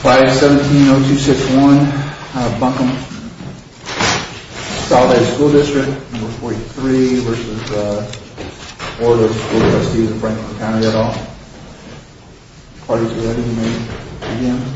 Friday, 17-0261, Buncombe. Solid State School District 43 v. Reg. Bd. of School Trustees of Franklin Co. Good morning, everyone. Thank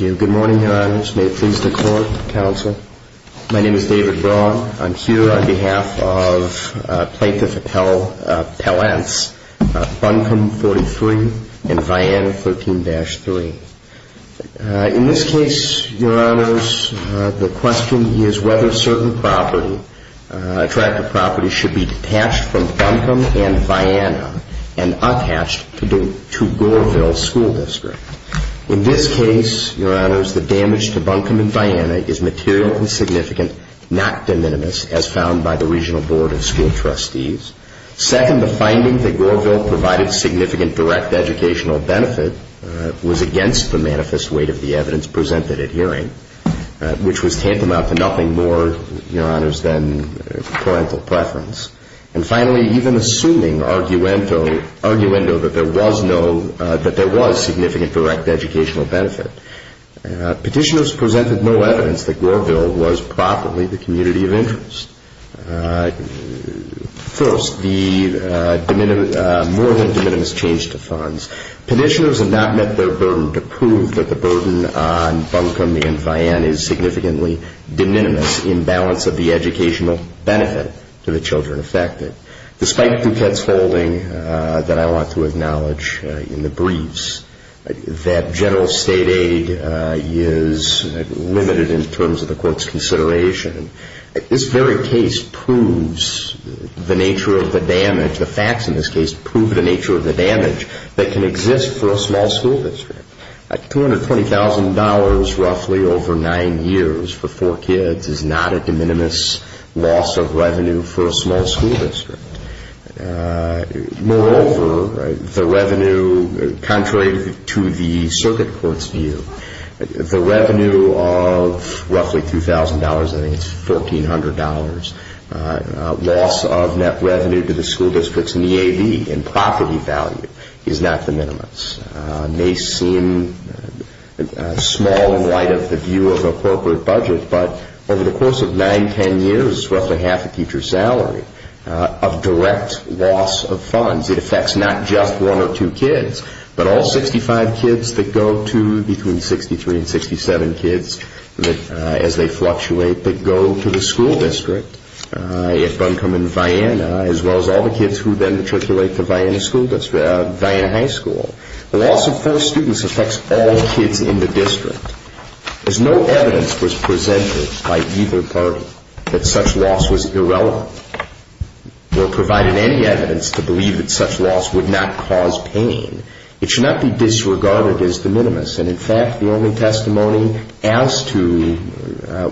you. Good morning, Your Honors. May it please the Court, Counsel. My name is David Braun. I'm here on behalf of Plaintiff Appellants Buncombe 43 and Vianna 13-3. In this case, Your Honors, the question is whether certain property, a tract of property, should be detached from Buncombe and Vianna and attached to Goreville School District. In this case, Your Honors, the damage to Buncombe and Vianna is material and significant, not de minimis, as found by the Regional Board of School Trustees. Second, the finding that Goreville provided significant direct educational benefit was against the manifest weight of the evidence presented at hearing, which was tantamount to nothing more, Your Honors, than parental preference. And finally, even assuming arguendo that there was significant direct educational benefit, petitioners presented no evidence that Goreville was properly the community of interest. First, the more than de minimis change to funds. Petitioners have not met their burden to prove that the burden on Buncombe and Vianna is significantly de minimis in balance of the educational benefit to the children affected. Despite Duquette's holding that I want to acknowledge in the briefs, that general state aid is limited in terms of the Court's consideration, this very case proves the nature of the damage, the facts in this case prove the nature of the damage that can exist for a small school district. $220,000 roughly over nine years for four kids is not a de minimis loss of revenue for a small school district. Moreover, the revenue, contrary to the Circuit Court's view, the revenue of roughly $2,000, I think it's $1,400, loss of net revenue to the school districts in the A.B. in property value is not de minimis. It may seem small in light of the view of appropriate budget, but over the course of nine, ten years, roughly half a teacher's salary of direct loss of funds. It affects not just one or two kids, but all 65 kids that go to, between 63 and 67 kids as they fluctuate, that go to the school district at Buncombe and Vianna, as well as all the kids who then matriculate to Vianna High School. The loss of four students affects all kids in the district. As no evidence was presented by either party that such loss was irrelevant, or provided any evidence to believe that such loss would not cause pain, it should not be disregarded as de minimis. And, in fact, the only testimony as to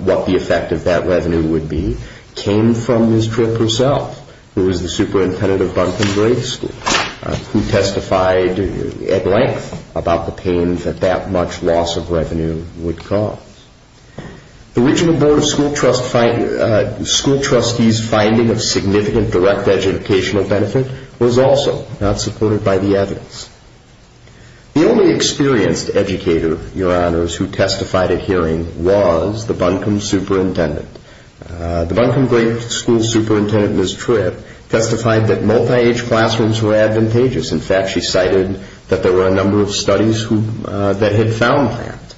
what the effect of that revenue would be came from Ms. Tripp herself, who was the superintendent of Buncombe Grade School, who testified at length about the pain that that much loss of revenue would cause. The original Board of School Trustees' finding of significant direct educational benefit was also not supported by the evidence. The only experienced educator, Your Honors, who testified at hearing was the Buncombe superintendent. The Buncombe Grade School superintendent, Ms. Tripp, testified that multi-age classrooms were advantageous. In fact, she cited that there were a number of studies that had found that.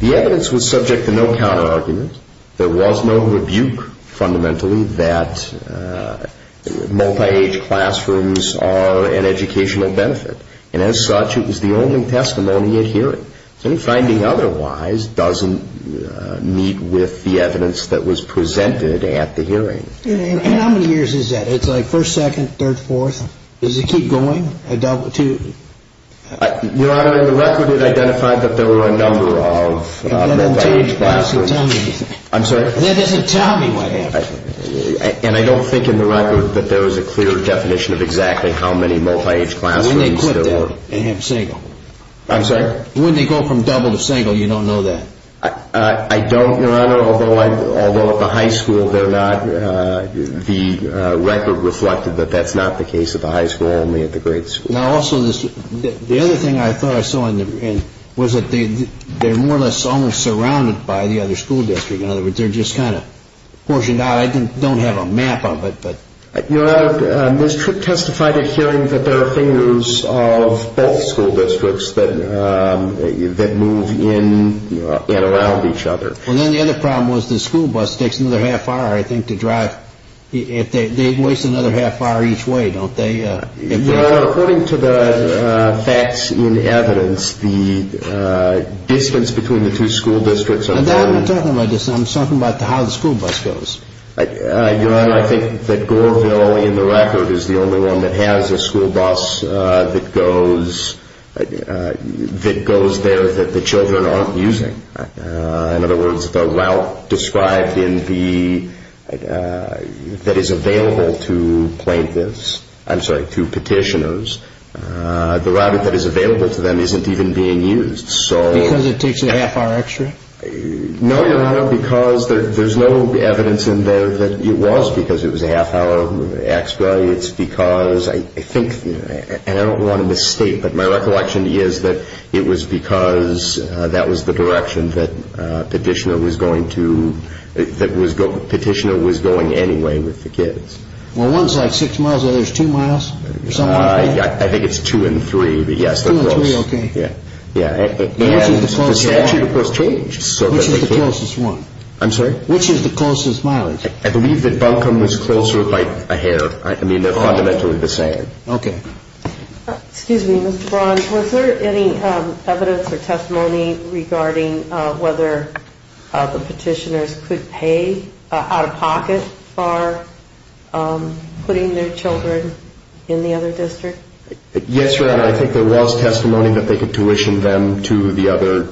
The evidence was subject to no counter-argument. There was no rebuke fundamentally that multi-age classrooms are an educational benefit. And as such, it was the only testimony at hearing. Any finding otherwise doesn't meet with the evidence that was presented at the hearing. And how many years is that? It's like first, second, third, fourth? Does it keep going? Your Honor, in the record it identified that there were a number of multi-age classrooms. That doesn't tell me anything. I'm sorry? That doesn't tell me what happened. And I don't think in the record that there was a clear definition of exactly how many multi-age classrooms there were. When they quit that, they have a single. I'm sorry? When they go from double to single, you don't know that. I don't, Your Honor, although at the high school they're not. The record reflected that that's not the case at the high school, only at the grade school. Now, also, the other thing I thought I saw was that they're more or less almost surrounded by the other school district. In other words, they're just kind of portioned out. I don't have a map of it, but. Your Honor, Ms. Tripp testified at hearing that there are fingers of both school districts that move in and around each other. Well, then the other problem was the school bus takes another half hour, I think, to drive. They waste another half hour each way, don't they? Your Honor, according to the facts in evidence, the distance between the two school districts are... I'm not talking about distance. I'm talking about how the school bus goes. Your Honor, I think that Goreville, in the record, is the only one that has a school bus that goes there that the children aren't using. In other words, the route described in the... that is available to plaintiffs... I'm sorry, to petitioners. The route that is available to them isn't even being used. Because it takes a half hour extra? No, Your Honor, because there's no evidence in there that it was because it was a half hour extra. It's because I think... and I don't want to misstate, but my recollection is that it was because that was the direction that petitioner was going to... that petitioner was going anyway with the kids. Well, one's like six miles, the other's two miles or something like that? I think it's two and three, but yes, they're close. Two and three, okay. The statute, of course, changed. Which is the closest one? I'm sorry? Which is the closest mileage? I believe that Buncombe was closer by a hair. I mean, they're fundamentally the same. Okay. Excuse me, Mr. Braun, was there any evidence or testimony regarding whether the petitioners could pay out-of-pocket for putting their children in the other district? Yes, Your Honor, I think there was testimony that they could tuition them to the other...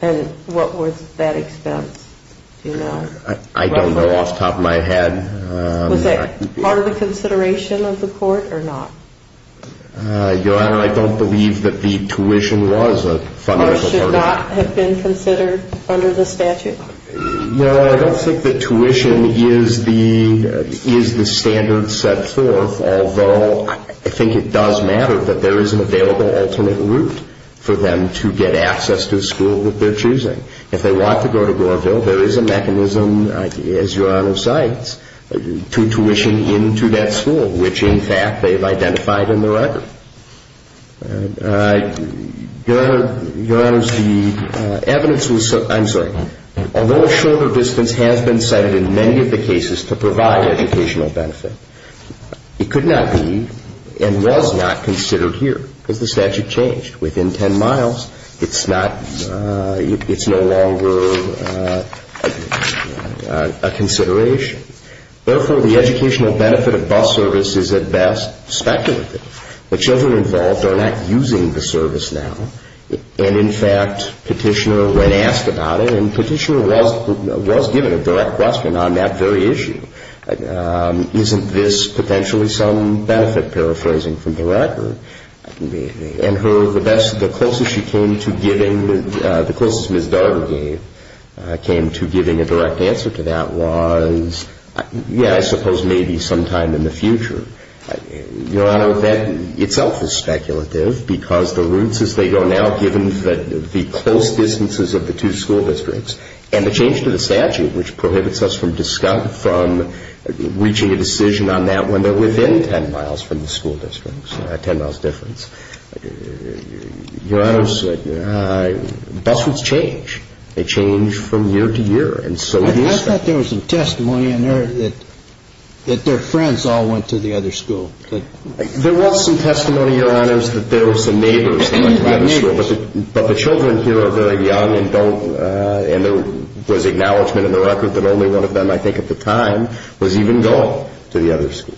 And what was that expense? I don't know off the top of my head. Was that part of the consideration of the court or not? Your Honor, I don't believe that the tuition was a fundamental part of that. It should not have been considered under the statute? No, I don't think that tuition is the standard set forth, although I think it does matter that there is an available alternate route for them to get access to a school of their choosing. If they want to go to Glorville, there is a mechanism, as Your Honor cites, to tuition into that school, which, in fact, they've identified in the record. Your Honor, the evidence was... I'm sorry. Although a shorter distance has been cited in many of the cases to provide educational benefit, it could not be and was not considered here because the statute changed. Within 10 miles, it's not... it's no longer a consideration. Therefore, the educational benefit of bus service is, at best, speculative. The children involved are not using the service now. And, in fact, Petitioner, when asked about it, and Petitioner was given a direct question on that very issue, isn't this potentially some benefit, paraphrasing from the record? And the closest she came to giving... the closest Ms. Darger came to giving a direct answer to that was, yeah, I suppose maybe sometime in the future. Your Honor, that itself is speculative because the routes as they go now, given the close distances of the two school districts, and the change to the statute, which prohibits us from reaching a decision on that when they're within 10 miles from the school district, a 10-mile difference, Your Honor, bus routes change. They change from year to year, and so do... But I thought there was some testimony in there that their friends all went to the other school. There was some testimony, Your Honor, that there were some neighbors that went to the other school. But the children here are very young and don't... and there was acknowledgment in the record that only one of them, I think at the time, was even going to the other school.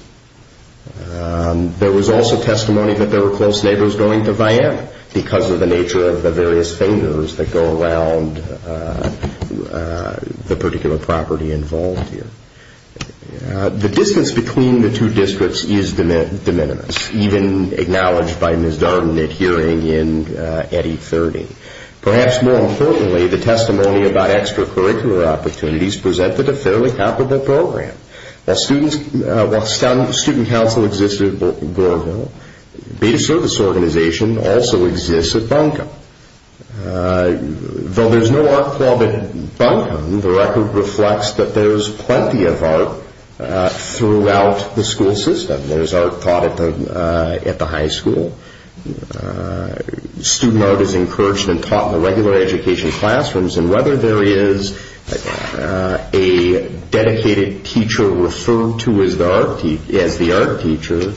There was also testimony that there were close neighbors going to Viam because of the nature of the various fingers that go around the particular property involved here. The distance between the two districts is de minimis, even acknowledged by Ms. Darden at hearing in Eddy 30. Perhaps more importantly, the testimony about extracurricular opportunities presented a fairly competent program. While Student Council existed at Goreville, Beta Service Organization also exists at Buncombe. Though there's no art club at Buncombe, the record reflects that there's plenty of art throughout the school system. There's art taught at the high school. Student art is encouraged and taught in the regular education classrooms, and whether there is a dedicated teacher referred to as the art teacher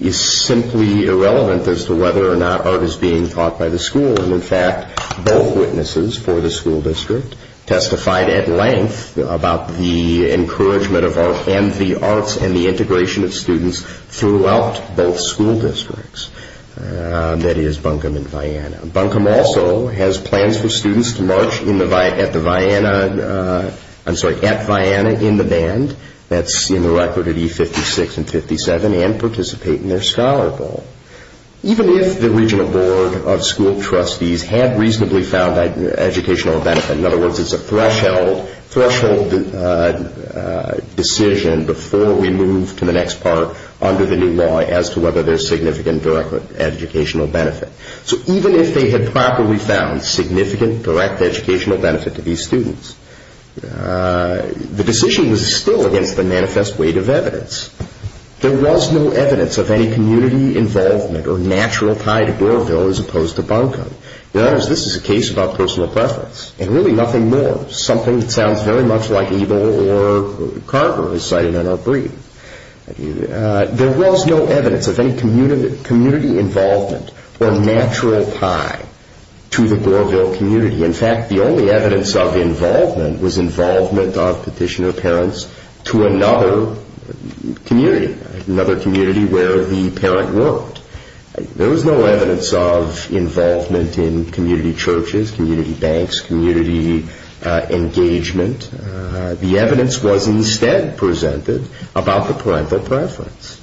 is simply irrelevant as to whether or not art is being taught by the school. In fact, both witnesses for the school district testified at length about the encouragement of art and the arts and the integration of students throughout both school districts, that is, Buncombe and Vianna. Buncombe also has plans for students to march at Vianna in the band, that's in the record at E56 and 57, and participate in their Scholar Bowl. Even if the regional board of school trustees had reasonably found educational benefit, in other words, it's a threshold decision before we move to the next part under the new law as to whether there's significant direct educational benefit. So even if they had properly found significant direct educational benefit to these students, the decision was still against the manifest weight of evidence. There was no evidence of any community involvement or natural tie to Goreville as opposed to Buncombe. In other words, this is a case about personal preference, and really nothing more. Something that sounds very much like Abel or Carver is citing in our brief. There was no evidence of any community involvement or natural tie to the Goreville community. In fact, the only evidence of involvement was involvement of petitioner parents to another community, another community where the parent worked. There was no evidence of involvement in community churches, community banks, community engagement. The evidence was instead presented about the parental preference.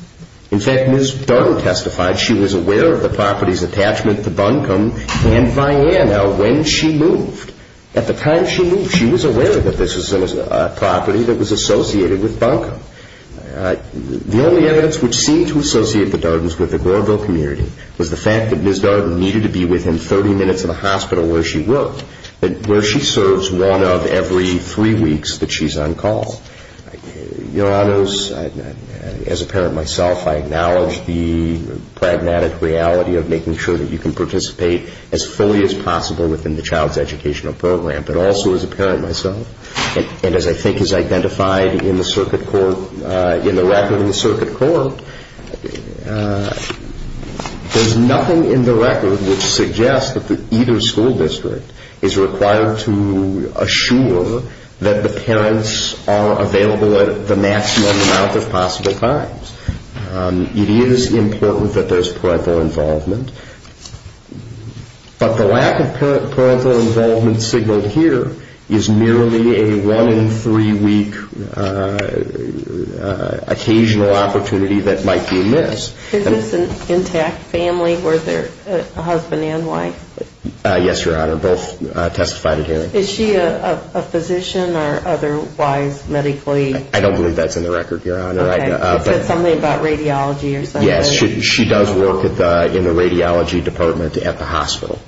In fact, Ms. Darden testified she was aware of the property's attachment to Buncombe and Vianna when she moved. At the time she moved, she was aware that this was a property that was associated with Buncombe. The only evidence which seemed to associate the Dardens with the Goreville community was the fact that Ms. Darden needed to be within 30 minutes of the hospital where she worked, where she serves one of every three weeks that she's on call. Your Honors, as a parent myself, I acknowledge the pragmatic reality of making sure that you can participate as fully as possible within the child's educational program. But also as a parent myself, and as I think is identified in the circuit court, in the record in the circuit court, there's nothing in the record which suggests that either school district is required to assure that the parents are available at the maximum amount of possible times. It is important that there's parental involvement. But the lack of parental involvement signaled here is merely a one-in-three week occasional opportunity that might be a miss. Is this an intact family? Were there a husband and wife? Yes, Your Honor. Both testified at hearing. Is she a physician or otherwise medically? I don't believe that's in the record, Your Honor. Okay. Is it something about radiology or something? Yes, she does work in the radiology department at the hospital.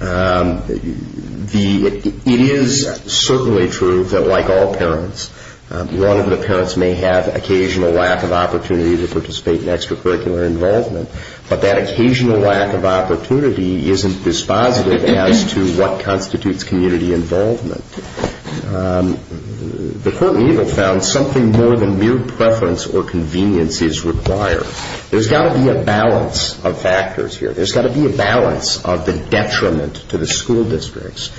It is certainly true that like all parents, one of the parents may have occasional lack of opportunity to participate in extracurricular involvement, but that occasional lack of opportunity isn't dispositive as to what constitutes community involvement. The court in evil found something more than mere preference or convenience is required. There's got to be a balance of factors here. There's got to be a balance of the detriment to the school districts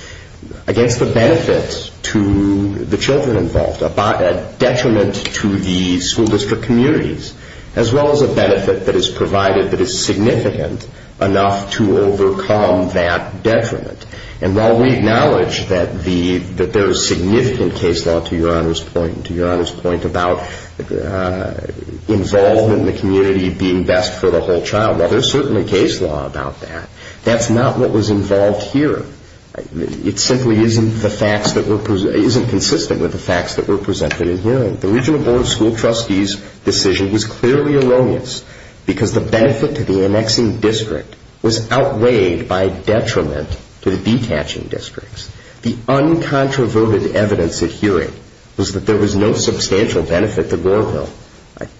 against the benefit to the children involved, a detriment to the school district communities, as well as a benefit that is provided that is significant enough to overcome that detriment. And while we acknowledge that there is significant case law, to Your Honor's point, to Your Honor's point about involvement in the community being best for the whole child, well, there's certainly case law about that. That's not what was involved here. It simply isn't consistent with the facts that were presented at hearing. The regional board of school trustees' decision was clearly erroneous because the benefit to the annexing district was outweighed by detriment to the detaching districts. The uncontroverted evidence at hearing was that there was no substantial benefit to Goreville.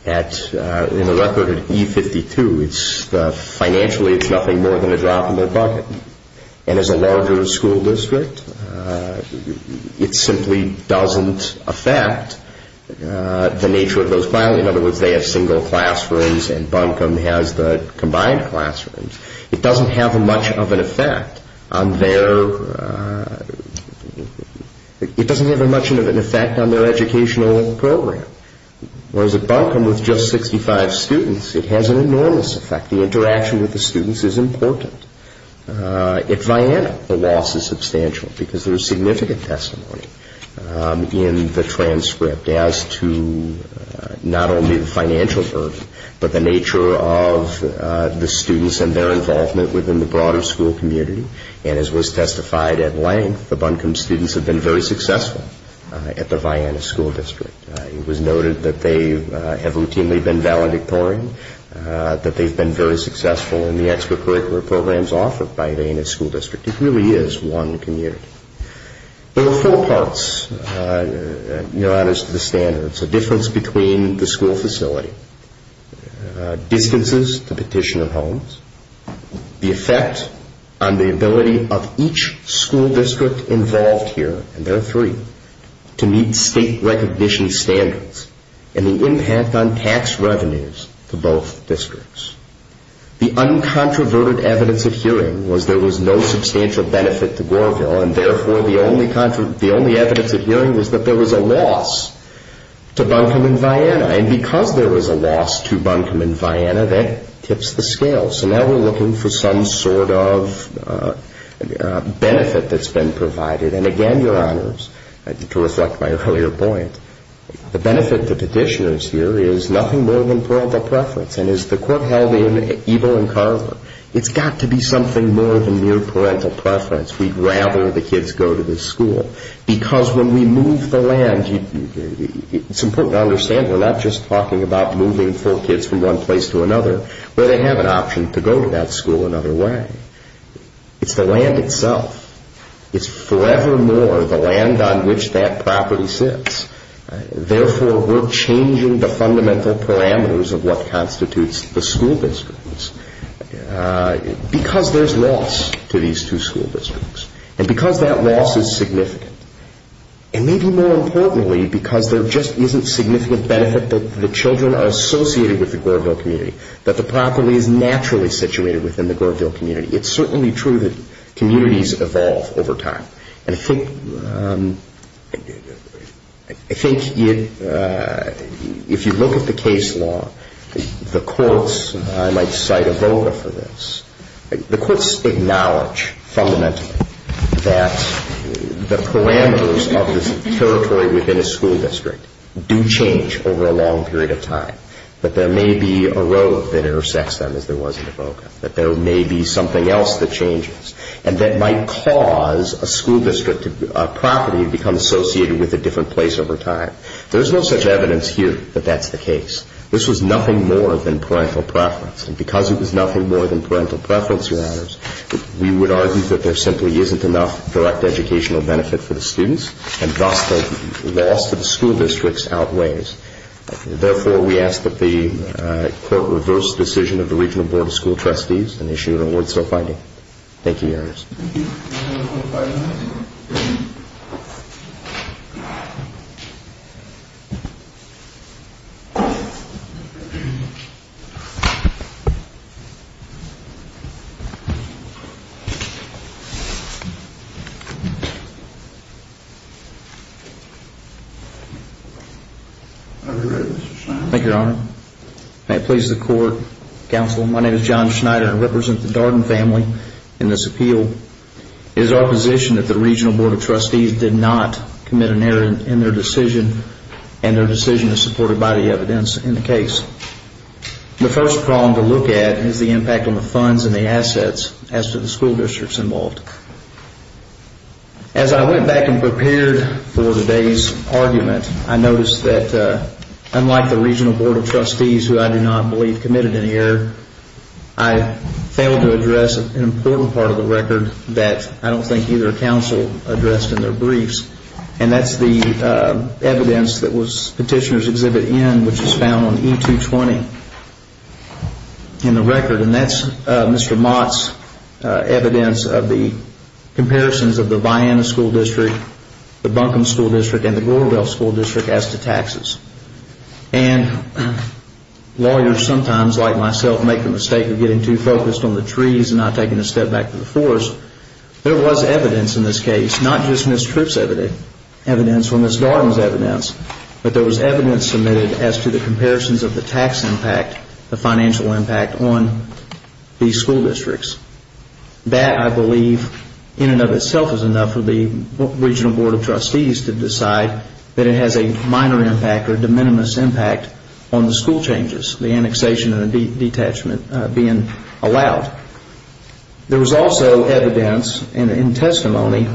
In the record at E52, financially, it's nothing more than a drop in the bucket. And as a larger school district, it simply doesn't affect the nature of those filing. In other words, they have single classrooms and Buncombe has the combined classrooms. It doesn't have much of an effect on their educational program. Whereas at Buncombe, with just 65 students, it has an enormous effect. The interaction with the students is important. At Vianna, the loss is substantial because there is significant testimony in the transcript as to not only the financial burden, but the nature of the students and their involvement within the broader school community. And as was testified at length, the Buncombe students have been very successful at the Vianna School District. It was noted that they have routinely been valedictorian, that they've been very successful in the extracurricular programs offered by Vianna School District. It really is one community. There are four parts, Your Honors, to the standards. The difference between the school facility, distances to petitioner homes, the effect on the ability of each school district involved here, and there are three, to meet state recognition standards, and the impact on tax revenues to both districts. The uncontroverted evidence of hearing was there was no substantial benefit to Goreville, and therefore the only evidence of hearing was that there was a loss to Buncombe and Vianna. And because there was a loss to Buncombe and Vianna, that tips the scale. So now we're looking for some sort of benefit that's been provided. And again, Your Honors, to reflect my earlier point, the benefit to petitioners here is nothing more than parental preference. And as the court held in Ebel and Carver, it's got to be something more than mere parental preference. We'd rather the kids go to this school. Because when we move the land, it's important to understand we're not just talking about moving four kids from one place to another where they have an option to go to that school another way. It's the land itself. It's forevermore the land on which that property sits. Therefore, we're changing the fundamental parameters of what constitutes the school districts. Because there's loss to these two school districts, and because that loss is significant, and maybe more importantly because there just isn't significant benefit that the children are associated with the Goreville community, that the property is naturally situated within the Goreville community. It's certainly true that communities evolve over time. And I think if you look at the case law, the courts, I might cite Avoca for this, the courts acknowledge fundamentally that the parameters of the territory within a school district do change over a long period of time. That there may be a road that intersects them as there was in Avoca. That there may be something else that changes. And that might cause a school district property to become associated with a different place over time. There's no such evidence here that that's the case. This was nothing more than parental preference. And because it was nothing more than parental preference, Your Honors, we would argue that there simply isn't enough direct educational benefit for the students, and thus the loss to the school districts outweighs. Therefore, we ask that the court reverse the decision of the Regional Board of School Trustees and issue an award so finding. Thank you, Your Honor. May it please the court, counsel, my name is John Schneider. I represent the Darden family in this appeal. It is our position that the Regional Board of Trustees did not commit an error in their decision, and their decision is supported by the evidence in the case. The first problem to look at is the impact on the funds and the assets as to the school districts involved. As I went back and prepared for today's argument, I noticed that unlike the Regional Board of Trustees, who I do not believe committed any error, I failed to address an important part of the record that I don't think either counsel addressed in their briefs, and that's the evidence that was Petitioner's Exhibit N, which is found on E-220 in the record. And that's Mr. Mott's evidence of the comparisons of the Vianna School District, the Buncombe School District, and the Gloryville School District as to taxes. And lawyers sometimes, like myself, make the mistake of getting too focused on the trees and not taking a step back to the forest. There was evidence in this case, not just Ms. Tripp's evidence or Ms. Darden's evidence, but there was evidence submitted as to the comparisons of the tax impact, the financial impact on these school districts. That, I believe, in and of itself is enough for the Regional Board of Trustees to decide that it has a minor impact or de minimis impact on the school changes, the annexation and detachment being allowed. There was also evidence and testimony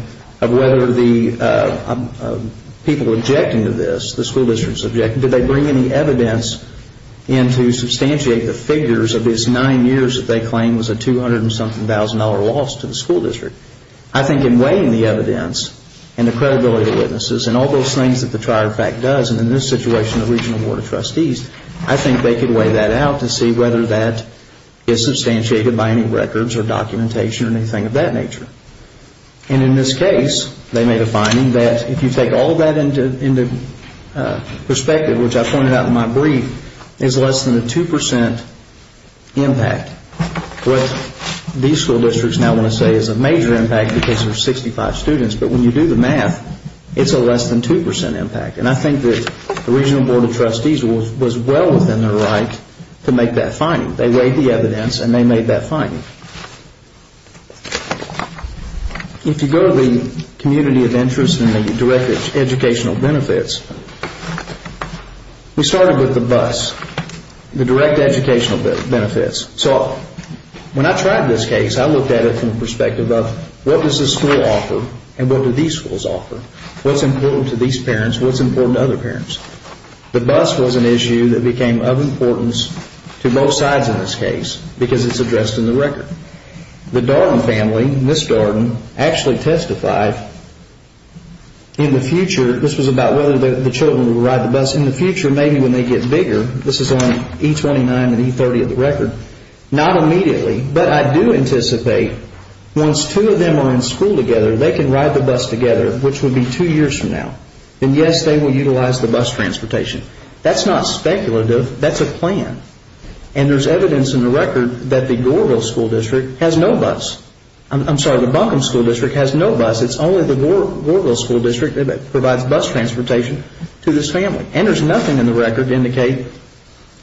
of whether the people objecting to this, the school districts objecting, did they bring any evidence in to substantiate the figures of these nine years that they claim was a $200,000-something loss to the school district. I think in weighing the evidence and the credibility of the witnesses and all those things that the Trier Fact does, and in this situation the Regional Board of Trustees, I think they can weigh that out to see whether that is substantiated by any records or documentation or anything of that nature. And in this case, they made a finding that if you take all that into perspective, which I pointed out in my brief, is less than a 2% impact. What these school districts now want to say is a major impact because there are 65 students, but when you do the math, it's a less than 2% impact. And I think that the Regional Board of Trustees was well within their right to make that finding. They weighed the evidence and they made that finding. If you go to the community of interest and the direct educational benefits, we started with the BUS, the direct educational benefits. So when I tried this case, I looked at it from the perspective of what does this school offer and what do these schools offer? What's important to these parents? What's important to other parents? The BUS was an issue that became of importance to both sides in this case because it's addressed in the record. The Darden family, Miss Darden, actually testified in the future. This was about whether the children would ride the BUS in the future maybe when they get bigger. This is on E29 and E30 of the record. Not immediately, but I do anticipate once two of them are in school together, they can ride the BUS together, which would be two years from now. And yes, they will utilize the BUS transportation. That's not speculative. That's a plan. And there's evidence in the record that the Goreville School District has no BUS. I'm sorry, the Buncombe School District has no BUS. It's only the Goreville School District that provides BUS transportation to this family. And there's nothing in the record to indicate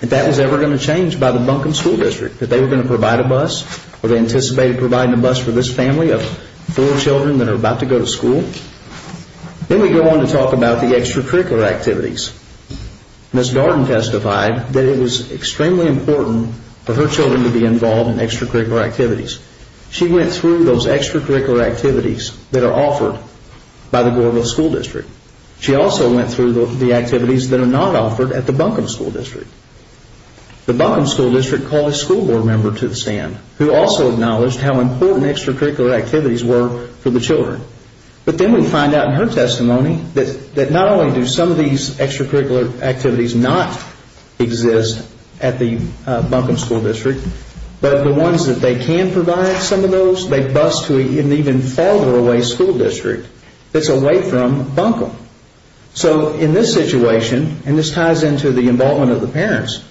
that that was ever going to change by the Buncombe School District, that they were going to provide a BUS or they anticipated providing a BUS for this family of four children that are about to go to school. Then we go on to talk about the extracurricular activities. Miss Darden testified that it was extremely important for her children to be involved in extracurricular activities. She went through those extracurricular activities that are offered by the Goreville School District. She also went through the activities that are not offered at the Buncombe School District. The Buncombe School District called a school board member to the stand who also acknowledged how important extracurricular activities were for the children. But then we find out in her testimony that not only do some of these extracurricular activities not exist at the Buncombe School District, but the ones that they can provide some of those, they BUS to an even farther away school district that's away from Buncombe. So in this situation, and this ties into the involvement of the parents,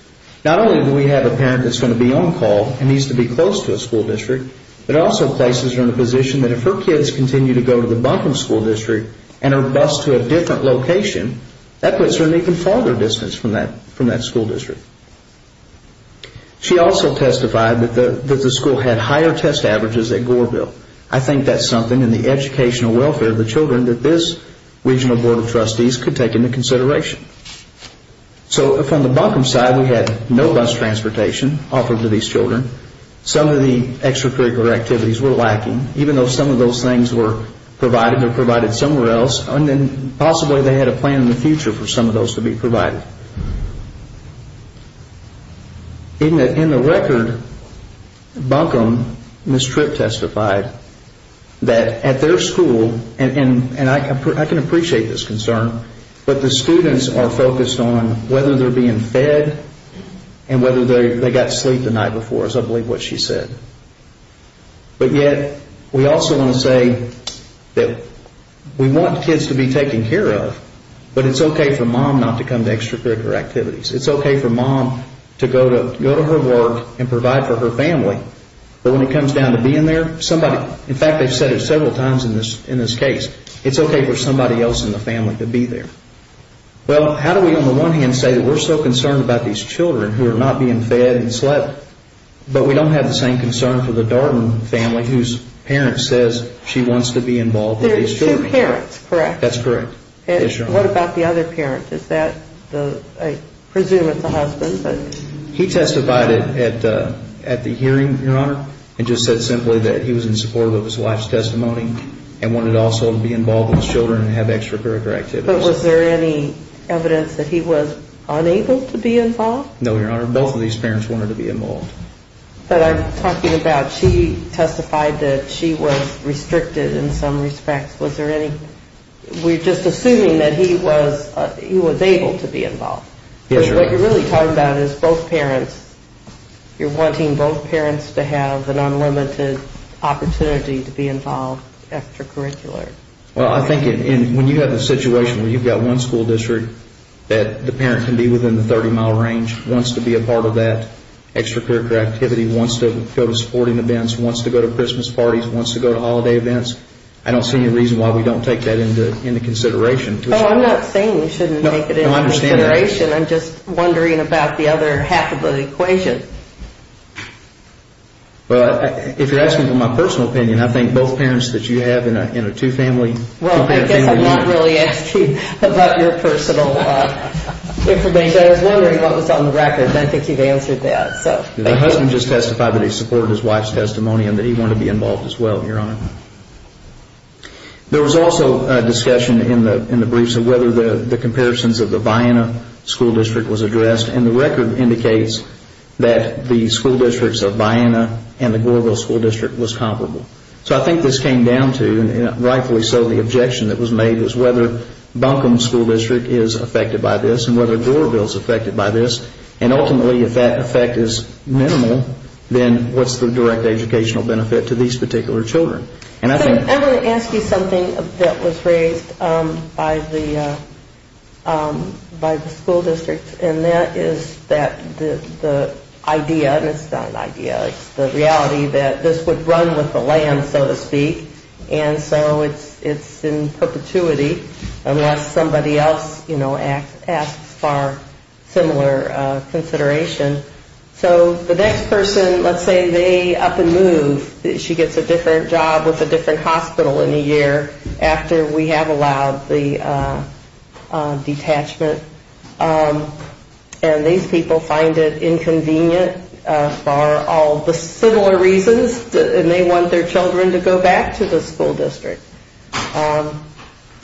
not only do we have a parent that's going to be on call and needs to be close to a school district, but also places her in a position that if her kids continue to go to the Buncombe School District and her BUS to a different location, that puts her an even farther distance from that school district. She also testified that the school had higher test averages at Goreville. I think that's something in the educational welfare of the children that this regional board of trustees could take into consideration. So from the Buncombe side, we had no bus transportation offered to these children. Some of the extracurricular activities were lacking. Even though some of those things were provided, they were provided somewhere else. Possibly they had a plan in the future for some of those to be provided. In the record, Buncombe, Ms. Tripp testified that at their school, and I can appreciate this concern, but the students are focused on whether they're being fed and whether they got sleep the night before is I believe what she said. But yet, we also want to say that we want kids to be taken care of, but it's okay for mom not to come to extracurricular activities. It's okay for mom to go to her work and provide for her family, but when it comes down to being there, somebody, in fact they've said it several times in this case, it's okay for somebody else in the family to be there. Well, how do we on the one hand say that we're so concerned about these children who are not being fed and slept, but we don't have the same concern for the Darden family whose parent says she wants to be involved with these children. That's correct. That's correct. What about the other parent? I presume it's the husband. He testified at the hearing, Your Honor, and just said simply that he was in support of his wife's testimony and wanted also to be involved with the children and have extracurricular activities. But was there any evidence that he was unable to be involved? What I'm talking about, she testified that she was restricted in some respects. Was there any, we're just assuming that he was able to be involved. Yes, Your Honor. What you're really talking about is both parents, you're wanting both parents to have an unlimited opportunity to be involved extracurricular. Well, I think when you have a situation where you've got one school district that the parent can be within the 30-mile range, wants to be a part of that extracurricular activity, wants to go to sporting events, wants to go to Christmas parties, wants to go to holiday events, I don't see any reason why we don't take that into consideration. Oh, I'm not saying we shouldn't take it into consideration. No, I understand that. I'm just wondering about the other half of the equation. Well, if you're asking for my personal opinion, I think both parents that you have in a two-family, two-parent family. I'm not really asking about your personal information. I was wondering what was on the record, and I think you've answered that. My husband just testified that he supported his wife's testimony and that he wanted to be involved as well, Your Honor. There was also a discussion in the briefs of whether the comparisons of the Vianna school district was addressed, and the record indicates that the school districts of Vianna and the Goreville school district was comparable. So I think this came down to, and rightfully so, the objection that was made was whether Buncombe school district is affected by this and whether Goreville is affected by this, and ultimately if that effect is minimal, then what's the direct educational benefit to these particular children? I want to ask you something that was raised by the school districts, and that is that the idea, and it's not an idea, it's the reality that this would run with the land, so to speak, and so it's in perpetuity unless somebody else, you know, asks for similar consideration. So the next person, let's say they up and move, she gets a different job with a different hospital in a year after we have allowed the detachment, and these people find it inconvenient for all the similar reasons, and they want their children to go back to the school district.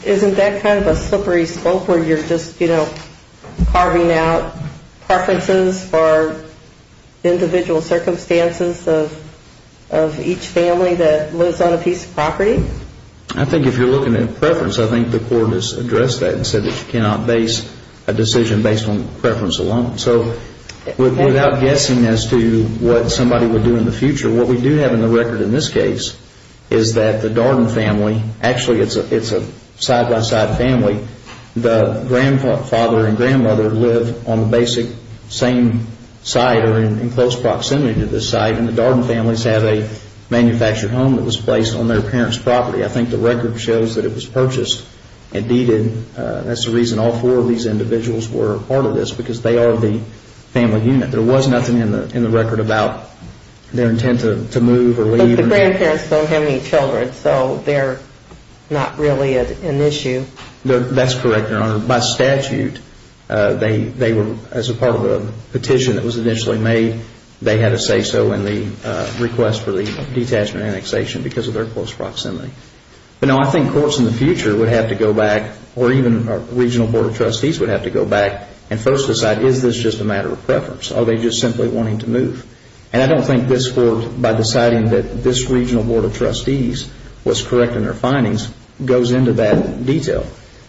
Isn't that kind of a slippery slope where you're just, you know, carving out preferences for individual circumstances of each family that lives on a piece of property? I think if you're looking at preference, I think the court has addressed that and said that you cannot base a decision based on preference alone. So without guessing as to what somebody would do in the future, what we do have in the record in this case is that the Darden family, actually it's a side-by-side family, the grandfather and grandmother live on the basic same site or in close proximity to this site, and the Darden families have a manufactured home that was placed on their parents' property. I think the record shows that it was purchased and deeded. That's the reason all four of these individuals were part of this, because they are the family unit. There was nothing in the record about their intent to move or leave. The grandparents don't have any children, so they're not really an issue. That's correct, Your Honor. By statute, they were, as a part of the petition that was initially made, they had a say-so in the request for the detachment annexation because of their close proximity. But no, I think courts in the future would have to go back, or even our regional board of trustees would have to go back and first decide, is this just a matter of preference? Are they just simply wanting to move? And I don't think this court, by deciding that this regional board of trustees was correct in their findings, goes into that detail,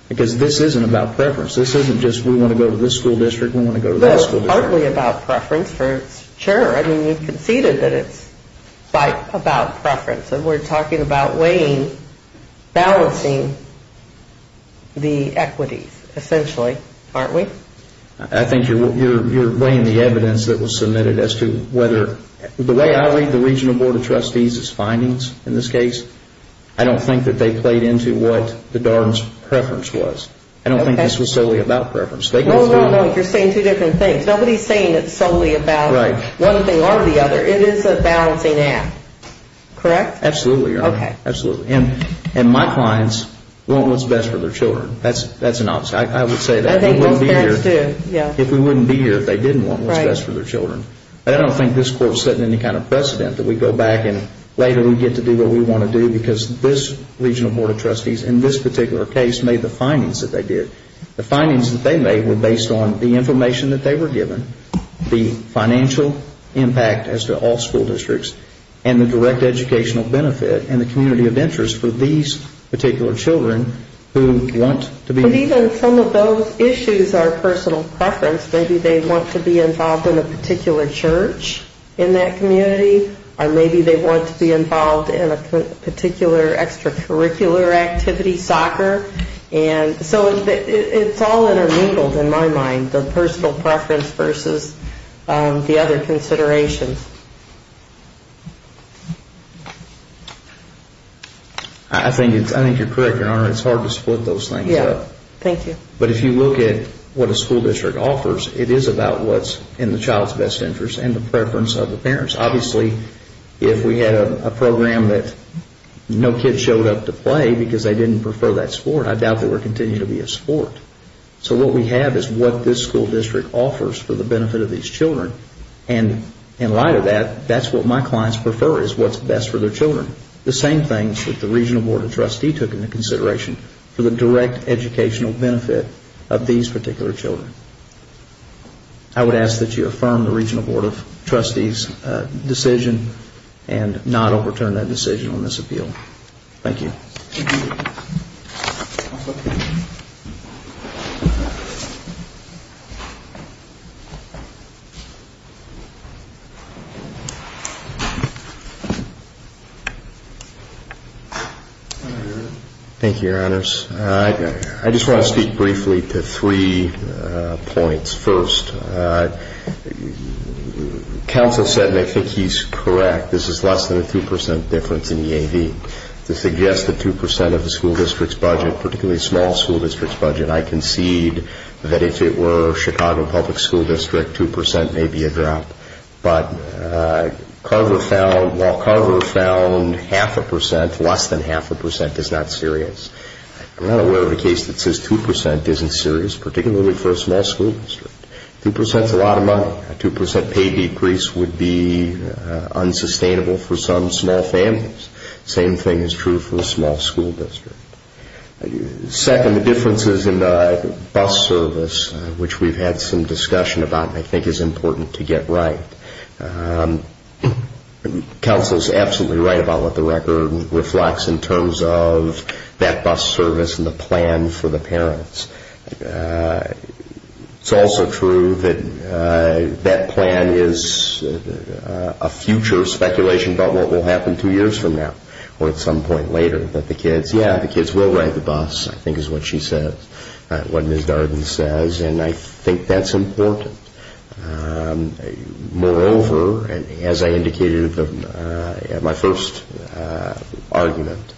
because this isn't about preference. This isn't just, we want to go to this school district, we want to go to that school district. Well, it's partly about preference for its chair. I mean, you conceded that it's about preference, and we're talking about weighing, balancing the equities, essentially, aren't we? I think you're weighing the evidence that was submitted as to whether, the way I read the regional board of trustees' findings in this case, I don't think that they played into what the DARM's preference was. I don't think this was solely about preference. No, no, no, you're saying two different things. Nobody's saying it's solely about one thing or the other. It is a balancing act, correct? Absolutely, Your Honor, absolutely. And my clients want what's best for their children. That's an opposite. I would say that. I think most parents do. If we wouldn't be here, if they didn't want what's best for their children. I don't think this court set any kind of precedent that we go back and later we get to do what we want to do, because this regional board of trustees, in this particular case, made the findings that they did. The findings that they made were based on the information that they were given, the financial impact as to all school districts, and the direct educational benefit, and the community of interest for these particular children who want to be involved. And even some of those issues are personal preference. Maybe they want to be involved in a particular church in that community, or maybe they want to be involved in a particular extracurricular activity, soccer. So it's all intermingled in my mind, the personal preference versus the other considerations. I think you're correct, Your Honor. It's hard to split those things up. Thank you. But if you look at what a school district offers, it is about what's in the child's best interest and the preference of the parents. Obviously, if we had a program that no kid showed up to play because they didn't prefer that sport, I doubt they would continue to be a sport. So what we have is what this school district offers for the benefit of these children, and in light of that, that's what my clients prefer is what's best for their children. The same things that the regional board of trustees took into consideration for the direct educational benefit of these particular children. I would ask that you affirm the regional board of trustees' decision and not overturn that decision on this appeal. Thank you. Thank you, Your Honors. I just want to speak briefly to three points. First, counsel said, and I think he's correct, this is less than a 2% difference in EAD. To suggest that 2% of the school district's budget, particularly a small school district's budget, I concede that if it were Chicago Public School District, 2% may be a drop. But while Carver found half a percent, less than half a percent is not serious, I'm not aware of a case that says 2% isn't serious, particularly for a small school district. 2% is a lot of money. A 2% pay decrease would be unsustainable for some small families. The same thing is true for a small school district. Second, the differences in the bus service, which we've had some discussion about and I think is important to get right. Counsel is absolutely right about what the record reflects in terms of that bus service and the plan for the parents. It's also true that that plan is a future speculation about what will happen two years from now or at some point later. But the kids, yeah, the kids will ride the bus, I think is what she says, what Ms. Darden says, and I think that's important. Moreover, as I indicated in my first argument,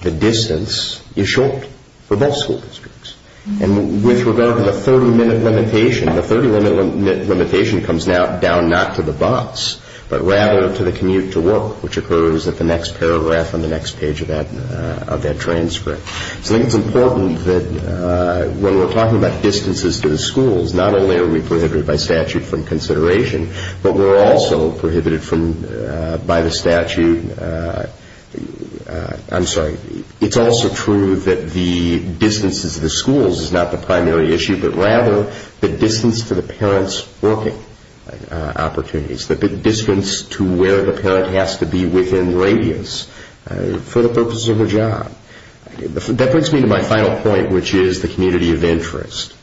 the distance is short for both school districts. And with regard to the 30-minute limitation, the 30-minute limitation comes down not to the bus but rather to the commute to work, which occurs at the next paragraph on the next page of that transcript. So I think it's important that when we're talking about distances to the schools, not only are we prohibited by statute from consideration, but we're also prohibited by the statute. I'm sorry, it's also true that the distances to the schools is not the primary issue but rather the distance to the parents' working opportunities, the distance to where the parent has to be within radius for the purposes of their job. That brings me to my final point, which is the community of interest.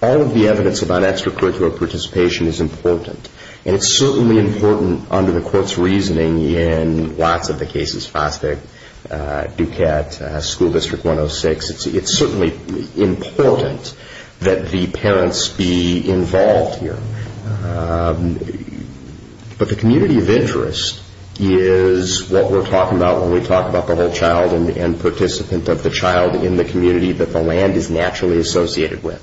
All of the evidence about extracurricular participation is important, and it's certainly important under the Court's reasoning in lots of the cases, Duquette, School District 106, it's certainly important that the parents be involved here. But the community of interest is what we're talking about when we talk about the whole child and participant of the child in the community that the land is naturally associated with.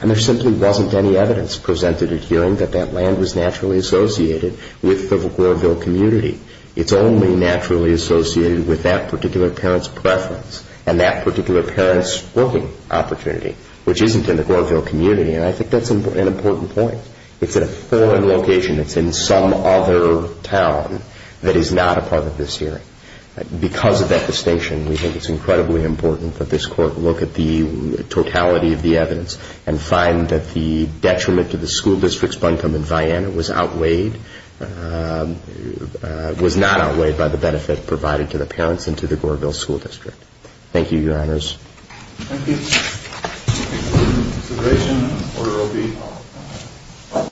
And there simply wasn't any evidence presented at hearing that that land was naturally associated with the Glorville community. It's only naturally associated with that particular parent's preference and that particular parent's working opportunity, which isn't in the Glorville community. And I think that's an important point. It's in a foreign location. It's in some other town that is not a part of this hearing. Because of that distinction, we think it's incredibly important that this Court look at the totality of the evidence and find that the detriment to the school districts, Buncombe and Vianna, was outweighed, was not outweighed by the benefit provided to the parents and to the Glorville School District. Thank you, Your Honors. Thank you. Thank you for your consideration. Order OB.